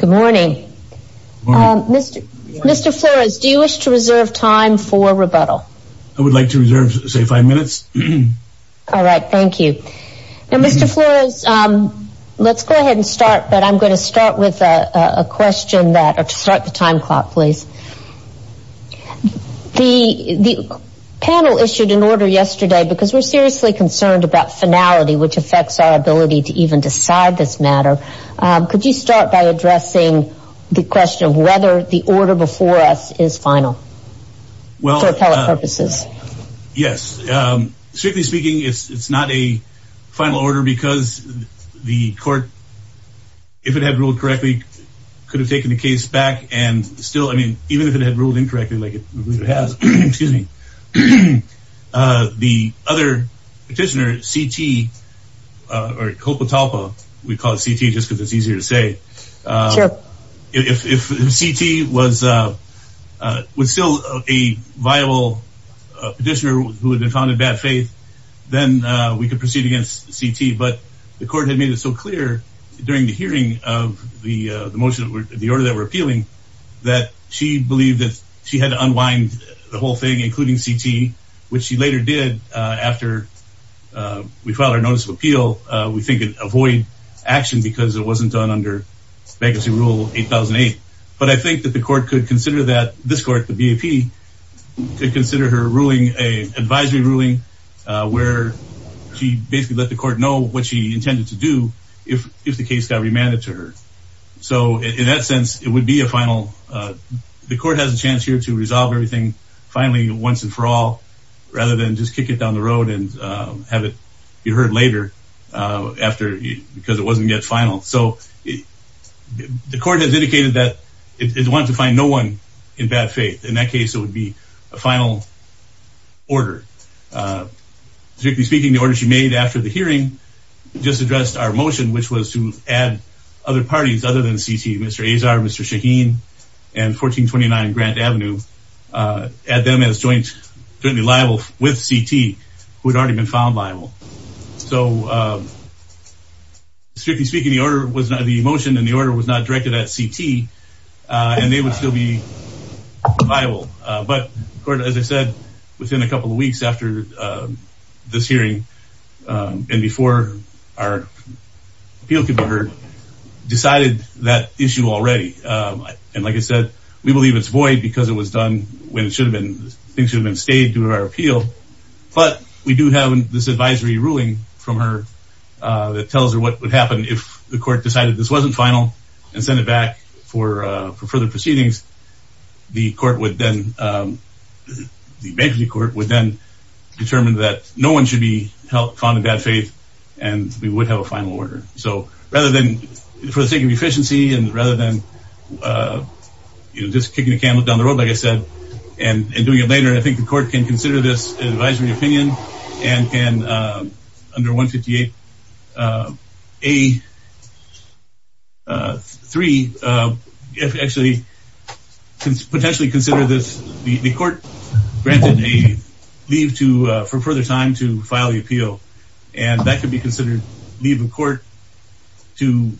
Good morning. Mr. Flores, do you wish to reserve time for rebuttal? I would like to reserve, say, five minutes. All right. Thank you. Mr. Flores, let's go ahead and start, but I'm going to start with a question to start the time clock, please. The panel issued an order yesterday because we're seriously concerned about finality, which affects our ability to even decide this matter. Could you start by addressing the question of whether the order before us is final for appellate purposes? Yes. Strictly speaking, it's not a final order because the court, if it had ruled correctly, could have taken the case back and still, I mean, even if it had ruled incorrectly, like it has, excuse me, the other petitioner, C.T. or Copatalpa, we call it C.T. just because it's easier to say. If C.T. was still a viable petitioner who had been found in bad faith, then we could proceed against C.T. But the court had made it so clear during the hearing of the order that we're appealing that she believed that she had to unwind the whole thing, including C.T., which she later did after we filed our notice of appeal. We think it avoid action because it wasn't done under bankruptcy rule 8008. But I think that the court could consider that this court, the BAP, could consider her ruling an advisory ruling where she basically let the court know what she would do. The court has a chance here to resolve everything finally, once and for all, rather than just kick it down the road and have it be heard later because it wasn't yet final. So the court has indicated that it wants to find no one in bad faith. In that case, it would be a final order. Strictly speaking, the order she made after the hearing just addressed our motion, which was to other parties other than C.T., Mr. Azar, Mr. Shaheen, and 1429 Grant Avenue, add them as jointly liable with C.T., who had already been found liable. So strictly speaking, the motion and the order was not directed at C.T. and they would still be liable. But as I said, within a couple of weeks after this hearing and before our appeal could be heard, we decided that issue already. And like I said, we believe it's void because it was done when things should have been stayed due to our appeal. But we do have this advisory ruling from her that tells her what would happen if the court decided this wasn't final and sent it back for further proceedings. The court would then, the bankruptcy court would then determine that no one should be found in bad faith and we would have a final order. So rather than, for the sake of efficiency and rather than, you know, just kicking the can down the road, like I said, and doing it later, I think the court can consider this advisory opinion and can, under 158A3, actually potentially consider this, the court granted a leave for further time to file the appeal. And that could be considered leave of finality. The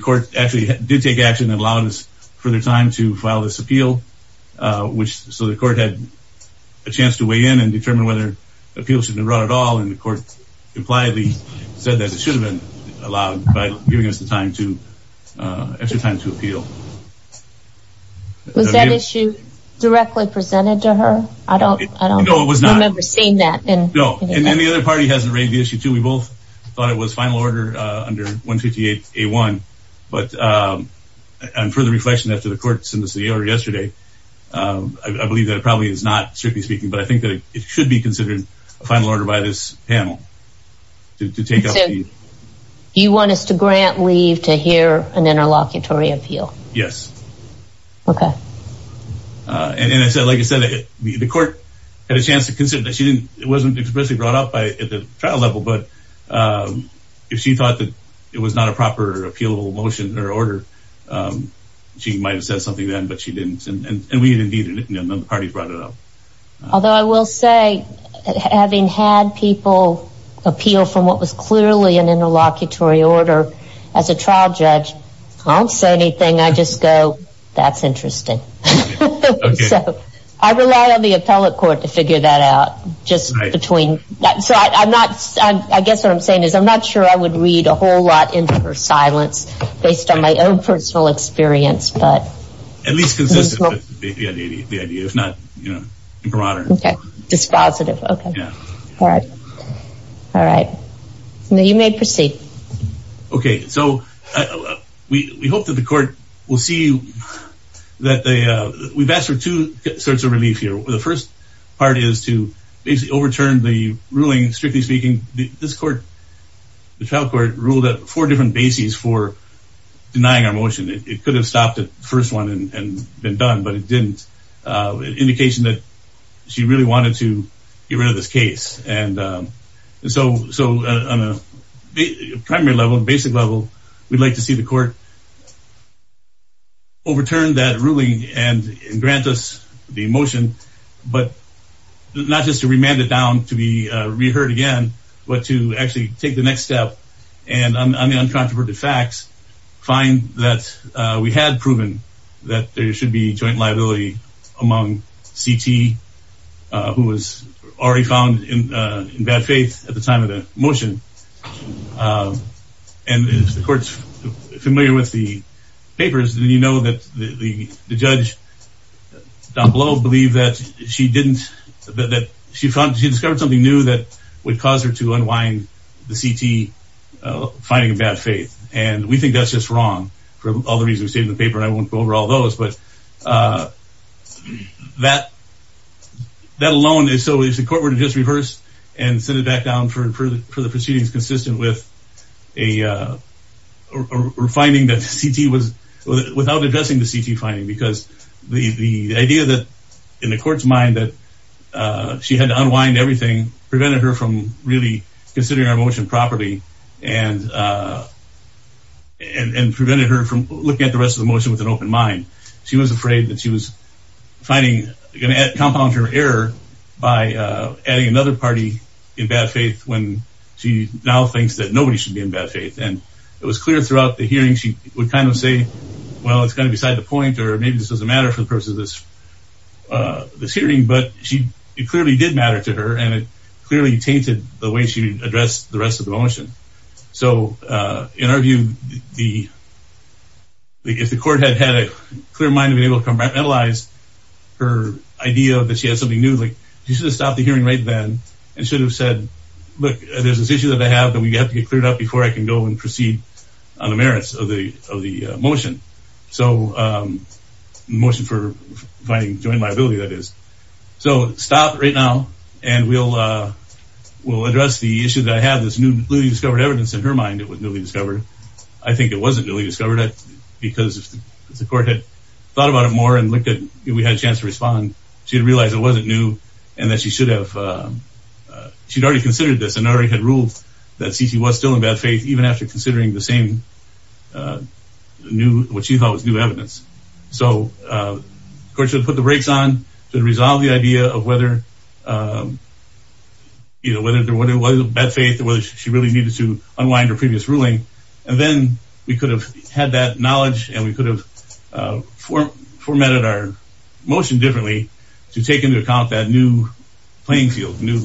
court actually did take action and allowed us further time to file this appeal, which so the court had a chance to weigh in and determine whether appeal should be brought at all. And the court impliedly said that it should have been allowed by giving us the time to, extra time to appeal. Was that issue directly presented to her? I don't, I don't remember seeing that. No, and then the other party hasn't raised the issue too. We both thought it was final order under 158A1. But, and for the reflection after the court sent us the order yesterday, I believe that it probably is not strictly speaking, but I think that it should be considered a final order by this panel to take up. You want us to grant leave to hear an interlocutory appeal? Yes. Okay. And I said, like I said, the court had a chance to consider she didn't, it wasn't expressly brought up by at the trial level, but if she thought that it was not a proper appeal motion or order, she might've said something then, but she didn't. And we didn't need it. And then the parties brought it up. Although I will say having had people appeal from what was clearly an interlocutory order as a trial judge, I don't say anything. I just go, that's interesting. So I rely on the appellate court to figure that out just between that. So I'm not, I guess what I'm saying is I'm not sure I would read a whole lot into her silence based on my own personal experience, but. At least consistent with the idea, if not broader. Okay. Dispositive. Okay. All right. All right. You may proceed. Okay. So we hope that the court will see that they, we've asked for two sorts of relief here. The first part is to basically overturn the ruling. Strictly speaking, this court, the trial court ruled that four different bases for denying our motion. It could have stopped at the first one and been done, but it didn't. Indication that she really wanted to get rid of this case. And so, so on a primary level, basic level, we'd like to see the court overturn that ruling and grant us the motion, but not just to remand it down, to be reheard again, but to actually take the next step and on the uncontroverted facts, find that we had proven that there should be joint liability among CT, who was already found in bad faith at the time of the motion. And if the court's familiar with the papers, then you know that the judge down below believe that she didn't, that she found, she discovered something new that would cause her to unwind the CT finding a bad faith. And we think that's just wrong for all the reasons we say in the paper. And I won't go over all those, but that, that alone is, so is the reverse and send it back down for, for the proceedings consistent with a finding that CT was without addressing the CT finding, because the, the idea that in the court's mind that she had to unwind everything prevented her from really considering our motion properly and, and prevented her from looking at the rest of the motion with an open mind. She was afraid that she was finding, going to compound her error by adding another party in bad faith when she now thinks that nobody should be in bad faith. And it was clear throughout the hearing, she would kind of say, well, it's kind of beside the point, or maybe this doesn't matter for the purpose of this, this hearing, but she, it clearly did matter to her. And it clearly tainted the way she addressed the rest of the motion. So in our view, the, the, if the court had had a clear mind to be able to compartmentalize her idea that she has something new, like you should have stopped the hearing right then and should have said, look, there's this issue that I have that we have to get cleared up before I can go and proceed on the merits of the, of the motion. So motion for finding joint liability, that is. So stop right now. And we'll, we'll address the issue that I have this newly discovered evidence in her mind. It was newly discovered. I think it wasn't newly discovered because the court had thought about it more and looked at, we had a chance to respond. She had realized it wasn't new and that she should have, she'd already considered this and already had ruled that CC was still in bad faith, even after considering the same new, what she thought was new evidence. So of course she would put the brakes on to resolve the idea of whether, you know, whether there, whether it was bad faith or whether she really needed to unwind her previous ruling. And then we could have had that knowledge and we could have formatted our motion differently to take into account that new playing field, new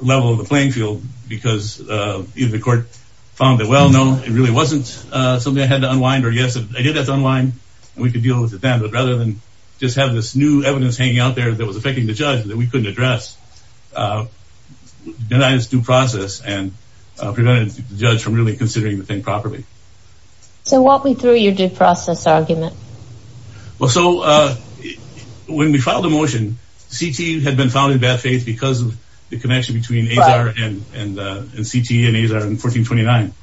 level of the playing field, because either the court found that, well, no, it really wasn't something I had to unwind or yes, I did have to unwind and we could deal with it then. But rather than just have this new evidence hanging out there that was affecting the judge that we couldn't address, denied its due process and prevented the judge from really considering the thing properly. So walk me through your due process argument. Well, so when we filed the motion, CT had been found in bad faith because of the connection between AZAR and CT and AZAR in 1429.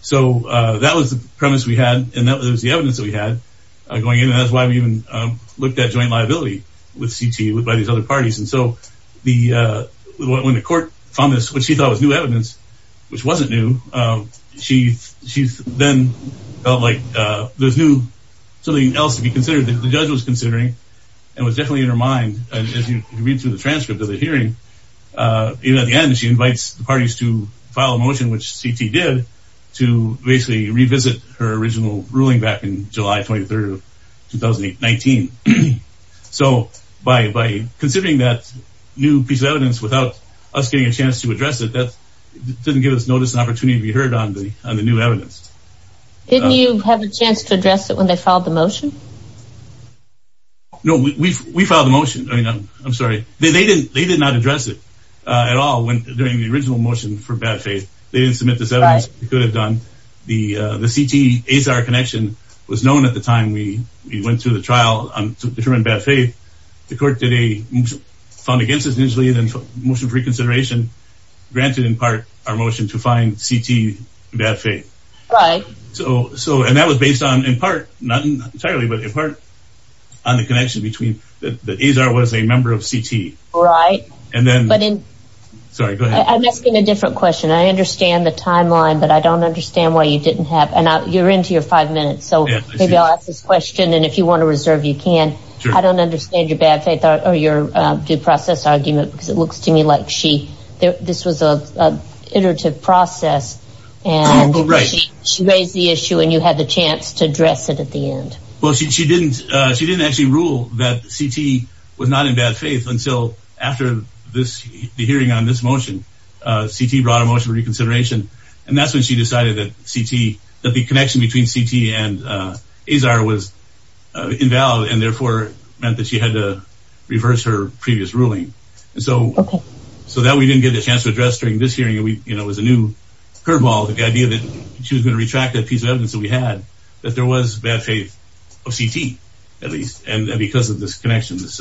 So that was the premise we had. And that was the evidence that we had going in. And that's why we even looked at joint liability with CT by these other parties. And so the, when the court found this, which she thought was new evidence, which wasn't new, she then felt like there's new, something else to be considered that the judge was considering and was definitely in her mind. And as you can read through the transcript of the hearing, even at the end, she invites the parties to file a motion, which CT did to basically revisit her July 23rd, 2019. So by considering that new piece of evidence without us getting a chance to address it, that didn't give us notice and opportunity to be heard on the new evidence. Didn't you have a chance to address it when they filed the motion? No, we filed the motion. I mean, I'm sorry. They did not address it at all during the original motion for bad faith. They didn't submit this evidence. They could have done. The CT-AZAR connection was known at the time we went through the trial to determine bad faith. The court did a fund against us usually and then motion for reconsideration granted in part our motion to find CT bad faith. Right. So, and that was based on in part, not entirely, but in part on the connection between that AZAR was a member of CT. Right. And then, sorry, go ahead. I'm asking a different question. I understand the timeline, but I don't understand why you didn't and you're into your five minutes. So maybe I'll ask this question and if you want to reserve, you can. I don't understand your bad faith or your due process argument because it looks to me like she, this was a iterative process and she raised the issue and you had the chance to address it at the end. Well, she didn't actually rule that CT was not in bad faith until after this, the hearing on this motion, CT brought a motion for reconsideration. And that's when she decided that CT, that the connection between CT and AZAR was invalid and therefore meant that she had to reverse her previous ruling. And so, so that we didn't get the chance to address during this hearing. And we, you know, it was a new curve ball, the idea that she was going to retract that piece of evidence that we had, that there was bad faith of CT at least. And because of this connection, this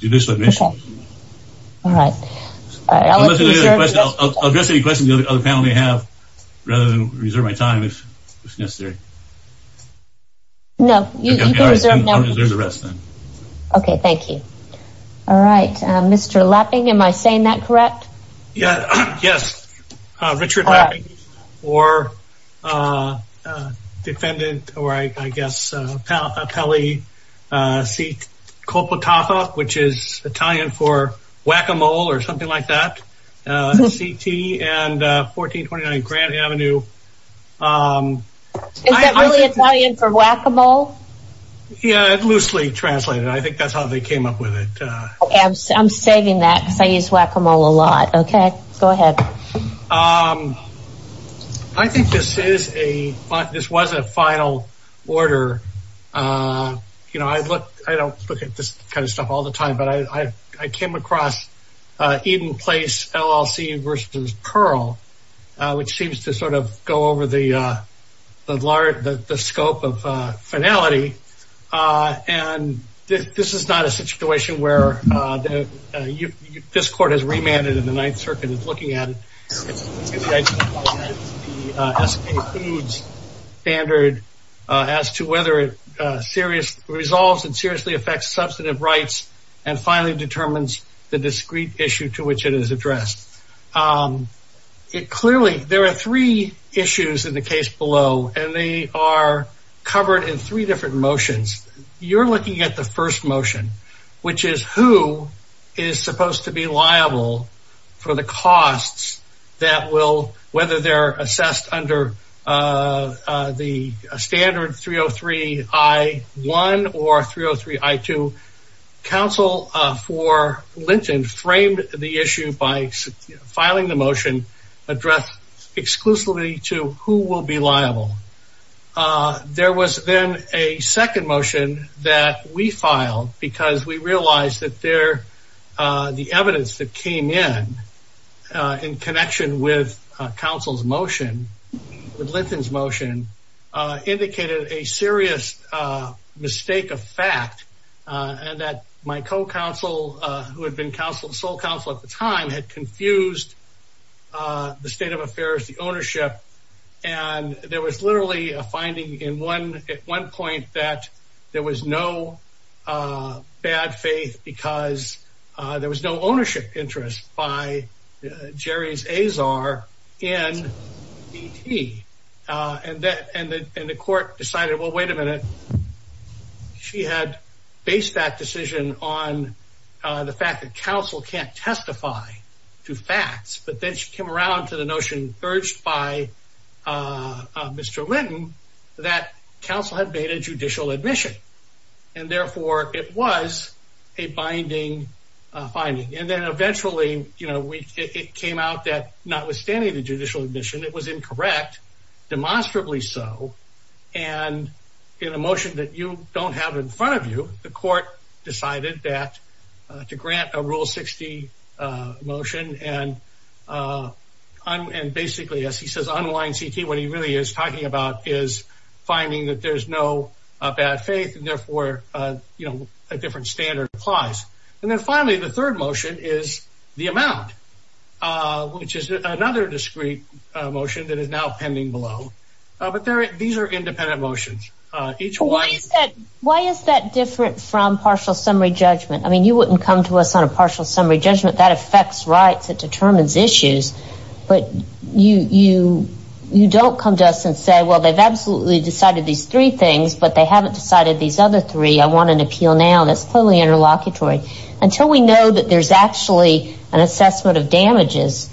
judicial admission. All right. I'll address any questions the other panel may have rather than reserve my time if necessary. No, you can reserve the rest then. Okay. Thank you. All right. Mr. Lapping, am I saying that correct? Yeah. Yes. Richard Lapping or defendant, or I guess, Pelle C. Copatata, which is Italian for whack-a-mole or something like that, CT and 1429 Grand Avenue. Is that really Italian for whack-a-mole? Yeah, loosely translated. I think that's how they came up with it. I'm saving that because I use whack-a-mole a lot. Okay, go ahead. I think this is a, this was a final order. You know, I look, I don't look at this kind of stuff all the time, but I came across Eden Place LLC versus Pearl, which seems to sort of go over the large, the scope of finality. And this is not a situation where this court has remanded and the Ninth Circuit is looking at it. The S&P Foods standard as to whether it resolves and seriously affects substantive rights and finally determines the discrete issue to which it is addressed. It clearly, there are three issues in the case below, and they are covered in three different motions. You're looking at the first motion, which is who is supposed to be liable. Council for Linton framed the issue by filing the motion addressed exclusively to who will be liable. There was then a second motion that we filed because we realized that there, the evidence that came in, in connection with council's motion, with Linton's motion, indicated a serious mistake of fact, and that my co-counsel, who had been sole counsel at the time, had confused the state of affairs, the ownership. And there was literally a finding at one point that there was no bad faith because there was no ownership interest by Jerry's Azar in DT. And the court decided, well, wait a minute. She had based that decision on the fact that council can't testify to facts, but then she came around to the notion urged by Mr. Linton that council had made a judicial admission and therefore it was a binding finding. And then demonstrably so, and in a motion that you don't have in front of you, the court decided that to grant a rule 60 motion and basically, as he says, unwind CT, what he really is talking about is finding that there's no bad faith and therefore, you know, a different standard applies. And then finally, the third motion is the amount, which is another discrete motion that is now below. But these are independent motions. Why is that different from partial summary judgment? I mean, you wouldn't come to us on a partial summary judgment. That affects rights. It determines issues. But you don't come to us and say, well, they've absolutely decided these three things, but they haven't decided these other three. I want an appeal now. That's totally interlocutory until we know that there's actually an assessment of damages.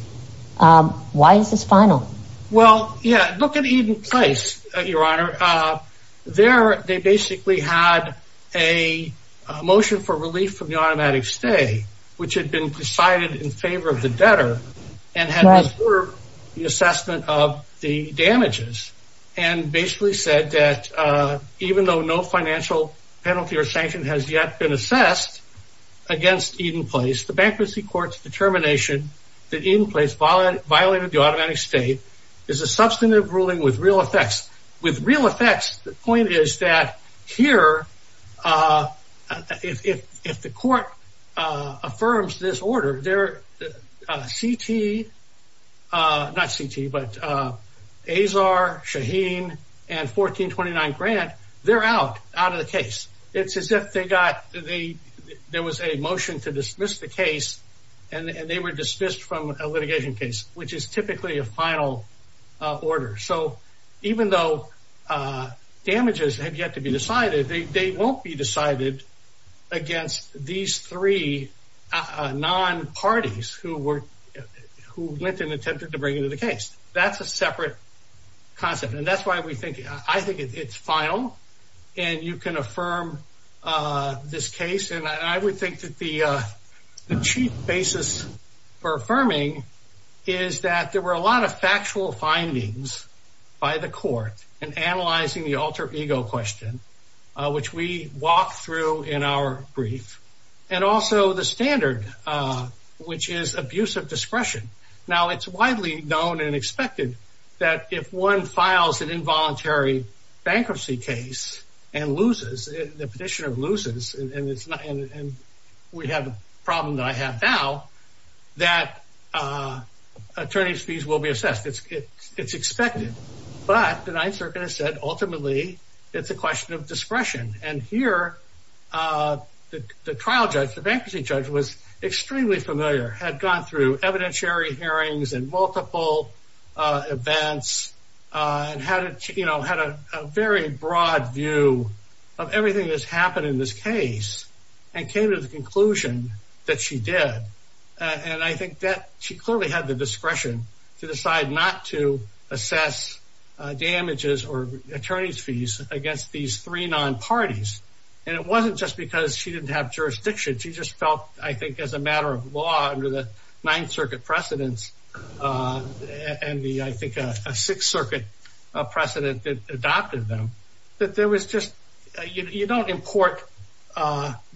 Why is this final? Well, yeah, look at Eden Place, your honor. There, they basically had a motion for relief from the automatic stay, which had been decided in favor of the debtor and had disturbed the assessment of the damages and basically said that even though no financial penalty or sanction has yet been assessed against Eden Place, the bankruptcy court's determination that Eden State is a substantive ruling with real effects. With real effects, the point is that here, if the court affirms this order, they're C.T., not C.T., but Azar, Shaheen, and 1429 Grant, they're out of the case. It's as if they got, there was a motion to dismiss the case and they were dismissed from a litigation case, which is typically a final order. So even though damages have yet to be decided, they won't be decided against these three non-parties who went and attempted to bring into the case. That's a separate concept. And that's why we think, I think it's final and you can affirm this case. And I would think that the chief basis for affirming is that there were a lot of factual findings by the court in analyzing the alter ego question, which we walked through in our brief, and also the standard, which is abuse of discretion. Now it's widely known and expected that if one files an involuntary bankruptcy case and loses, the petitioner loses, and we have a problem that I have now, that attorney's fees will be assessed. It's expected. But the Ninth Circuit has said, ultimately, it's a question of discretion. And here, the trial judge, the bankruptcy judge, was extremely familiar, had gone through evidentiary hearings and multiple events, and had a very broad view of everything that's happened in this case, and came to the conclusion that she did. And I think that she clearly had the discretion to decide not to assess damages or attorney's fees against these three non-parties. And it wasn't just because she didn't have jurisdiction. She just felt, I think, as a matter of law under the Ninth Circuit precedents, and the, I think, Sixth Circuit precedent that adopted them, that there was just, you don't import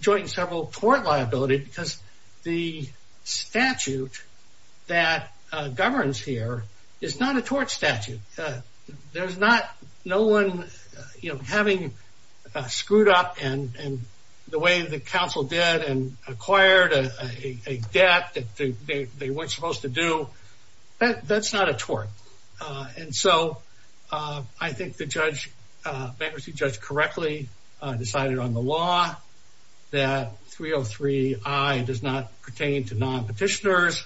joint and several tort liability, because the statute that governs here is not a tort statute. There's not, no one, you know, having screwed up, and the way the court is supposed to do, that's not a tort. And so, I think the judge, bankruptcy judge, correctly decided on the law that 303I does not pertain to non-petitioners.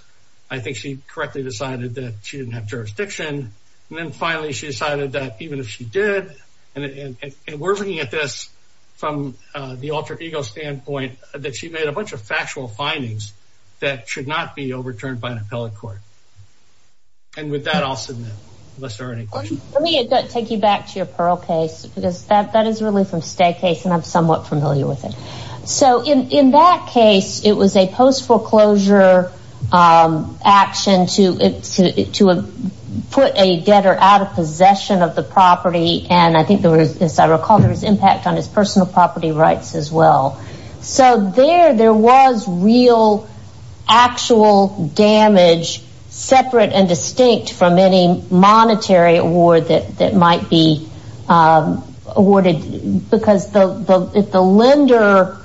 I think she correctly decided that she didn't have jurisdiction. And then finally, she decided that even if she did, and we're looking at this from the alter ego standpoint, that she made a bunch of factual findings that should not be overturned by an appellate court. And with that, I'll submit, unless there are any questions. Let me take you back to your Pearl case, because that is really from Stagg case, and I'm somewhat familiar with it. So, in that case, it was a post foreclosure action to put a debtor out of possession of the property, and I think there was, as I recall, there was impact on his personal property rights as well. So, there, there was real actual damage separate and distinct from any monetary award that might be awarded, because if the lender,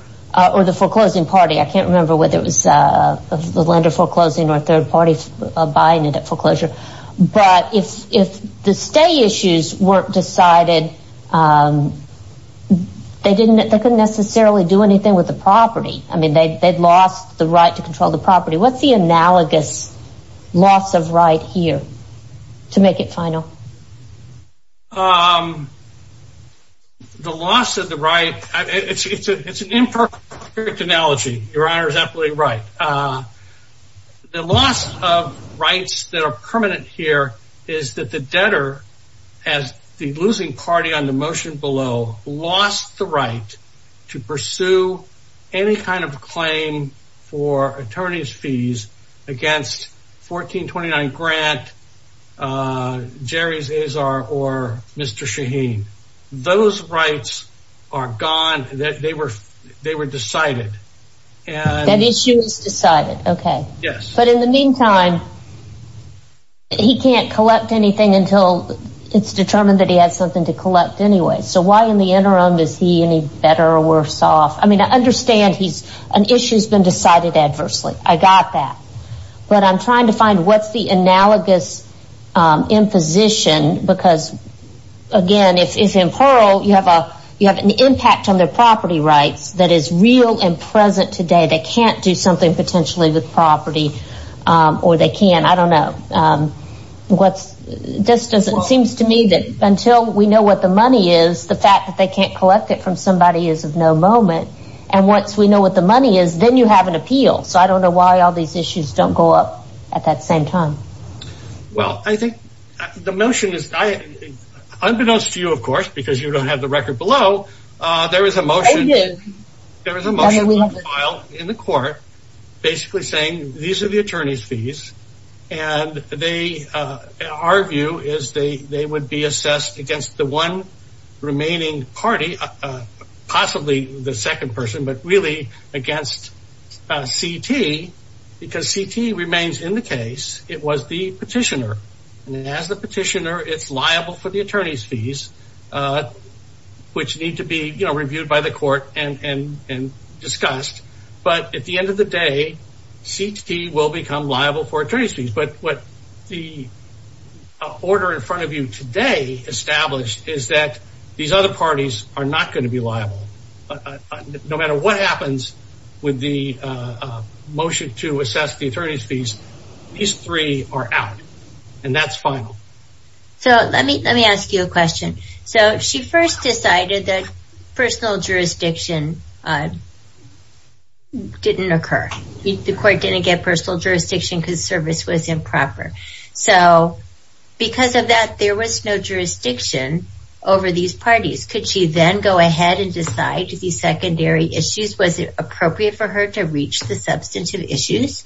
or the foreclosing party, I can't remember whether it was the lender foreclosing or third party buying it at foreclosure, but if the stay issues weren't decided, they couldn't necessarily do anything with the property. I mean, they'd lost the right to control the property. What's the analogous loss of right here to make it final? The loss of the right, it's an imperfect analogy. Your Honor is absolutely right. The loss of rights that are permanent here is that the debtor, as the losing party on the motion below, lost the right to pursue any kind of claim for attorney's fees against 1429 Grant, Jerry's, Azar, or Mr. Shaheen. Those rights are gone. They were decided. And that issue is decided. Okay. Yes. But in the meantime, he can't collect anything until it's determined that he has something to collect anyway. So, why in the interim is he any better or worse off? I mean, I understand he's, an issue has been decided adversely. I got that. But I'm trying to find what's the analogous imposition, because again, if, if in Pearl, you have a, you have an impact on their property rights, that is real and present today, they can't do something potentially with property or they can't, I don't know. What's this doesn't, it seems to me that until we know what the money is, the fact that they can't collect it from somebody is of no moment. And once we know what the money is, then you have an appeal. So I don't know why all these issues don't go up at that same time. Well, I think the motion is, I, unbeknownst to you, of course, because you don't have the There was a motion filed in the court, basically saying, these are the attorney's fees. And they, our view is they, they would be assessed against the one remaining party, possibly the second person, but really against CT, because CT remains in the case, it was the petitioner. And as the petitioner, it's liable for the attorney's fees, which need to be reviewed by the court and discussed. But at the end of the day, CT will become liable for attorney's fees. But what the order in front of you today established is that these other parties are not going to be liable. No matter what happens with the motion to assess the attorney's fees, these three are out. And that's final. So let me let me ask you a question. So she first decided that personal jurisdiction didn't occur. The court didn't get personal jurisdiction because service was improper. So because of that, there was no jurisdiction over these parties. Could she then go ahead and decide to the secondary issues? Was it appropriate for her to reach the substantive issues?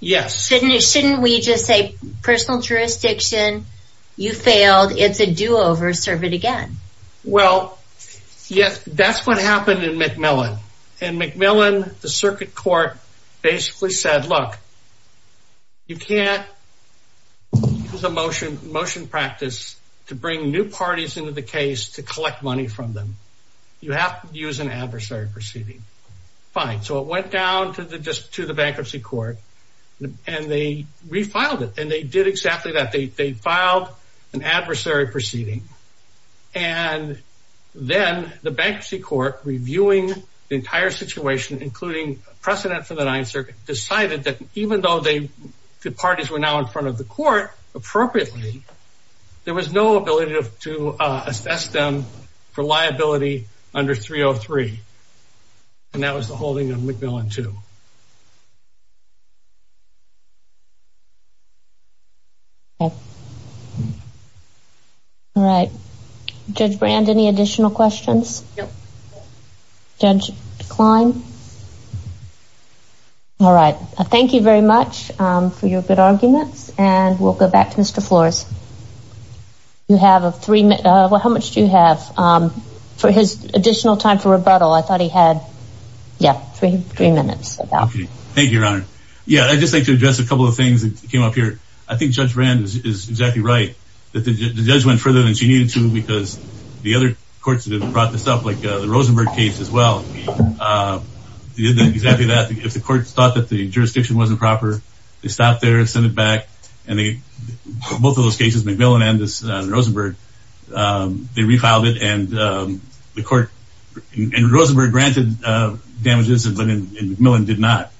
Yes. Shouldn't we just say personal jurisdiction, you failed, it's a do over, serve it again? Well, yes, that's what happened in Macmillan. And Macmillan, the circuit court basically said, look, you can't use a motion motion practice to bring new parties into the to the bankruptcy court. And they refiled it. And they did exactly that. They filed an adversary proceeding. And then the bankruptcy court reviewing the entire situation, including precedent for the Ninth Circuit, decided that even though the parties were now in front of the court appropriately, there was no ability to assess them for liability under 303. And that was the two. All right, Judge Brand, any additional questions? Judge Klein. All right. Thank you very much for your good arguments. And we'll go back to Mr. Flores. You have a three. How much do you have for his additional time for rebuttal? I thought he had. Yeah, three minutes. Thank you, Your Honor. Yeah, I just like to address a couple of things that came up here. I think Judge Brand is exactly right, that the judge went further than she needed to because the other courts that have brought this up, like the Rosenberg case as well, exactly that if the courts thought that the jurisdiction wasn't proper, they stopped there and send it back. And they both of those cases, Macmillan and Rosenberg, they refiled it. And the court in Rosenberg granted damages, but in Macmillan did not.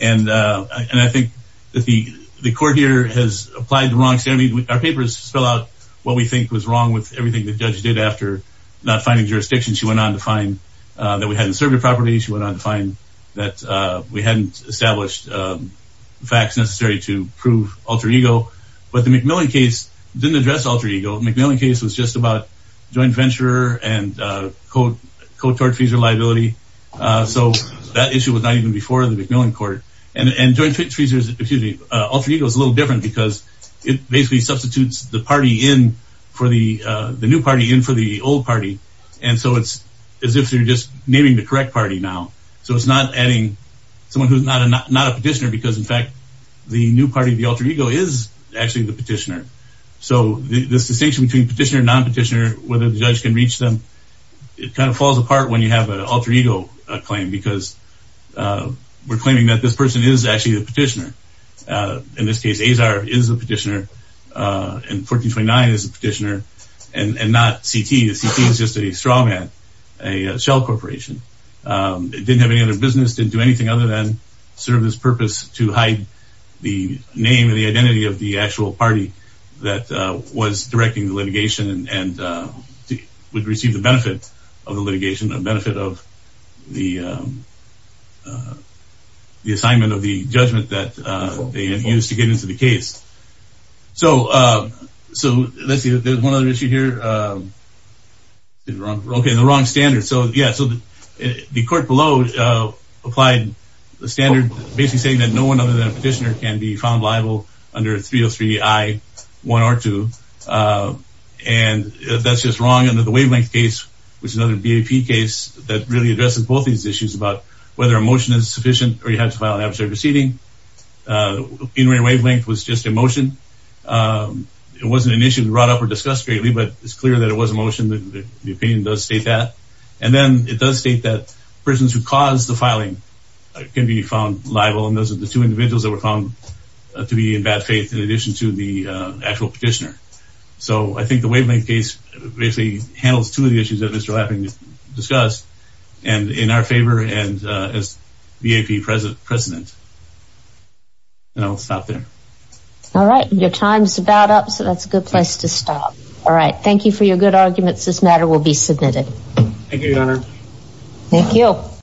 And I think that the court here has applied the wrong standard. Our papers spell out what we think was wrong with everything the judge did after not finding jurisdiction. She went on to find that we hadn't served her properly. She went on to find that we hadn't established facts to prove alter ego. But the Macmillan case didn't address alter ego. The Macmillan case was just about joint venturer and code court fees or liability. So that issue was not even before the Macmillan court. And joint fees, alter ego is a little different because it basically substitutes the party in for the new party in for the old party. And so it's as if you're just naming the correct party now. So it's not adding someone who's not a petitioner because in fact, the new party of the alter ego is actually the petitioner. So this distinction between petitioner and non-petitioner, whether the judge can reach them, it kind of falls apart when you have an alter ego claim because we're claiming that this person is actually the petitioner. In this case, Azar is the petitioner and 1429 is the petitioner and not CT. CT is just a straw man, a shell corporation. It didn't have any other business, didn't do anything other than serve this purpose to hide the name and the identity of the actual party that was directing the litigation and would receive the benefit of the litigation, the benefit of the assignment of the judgment that they had used to get into the case. So let's see, there's one other issue here. Okay, the wrong standard. So yeah, so the court below applied the standard, basically saying that no one other than a petitioner can be found liable under 303 I-1R2. And that's just wrong under the wavelength case, which is another BAP case that really addresses both these issues about whether a motion is sufficient or you have to file an adversary proceeding. In re wavelength was just a motion. It wasn't initially brought up or discussed greatly, but it's clear that it was a motion that the opinion does state that. And then it does state that persons who caused the filing can be found liable. And those are the two individuals that were found to be in bad faith in addition to the actual petitioner. So I think the wavelength case basically handles two of the issues that Mr. Lapping discussed and in our favor and as BAP president. And I'll stop there. All right. Your time's about up. So that's a good place to stop. All right. Thank you for your good arguments. This matter will be submitted. Thank you, Your Honor. Thank you.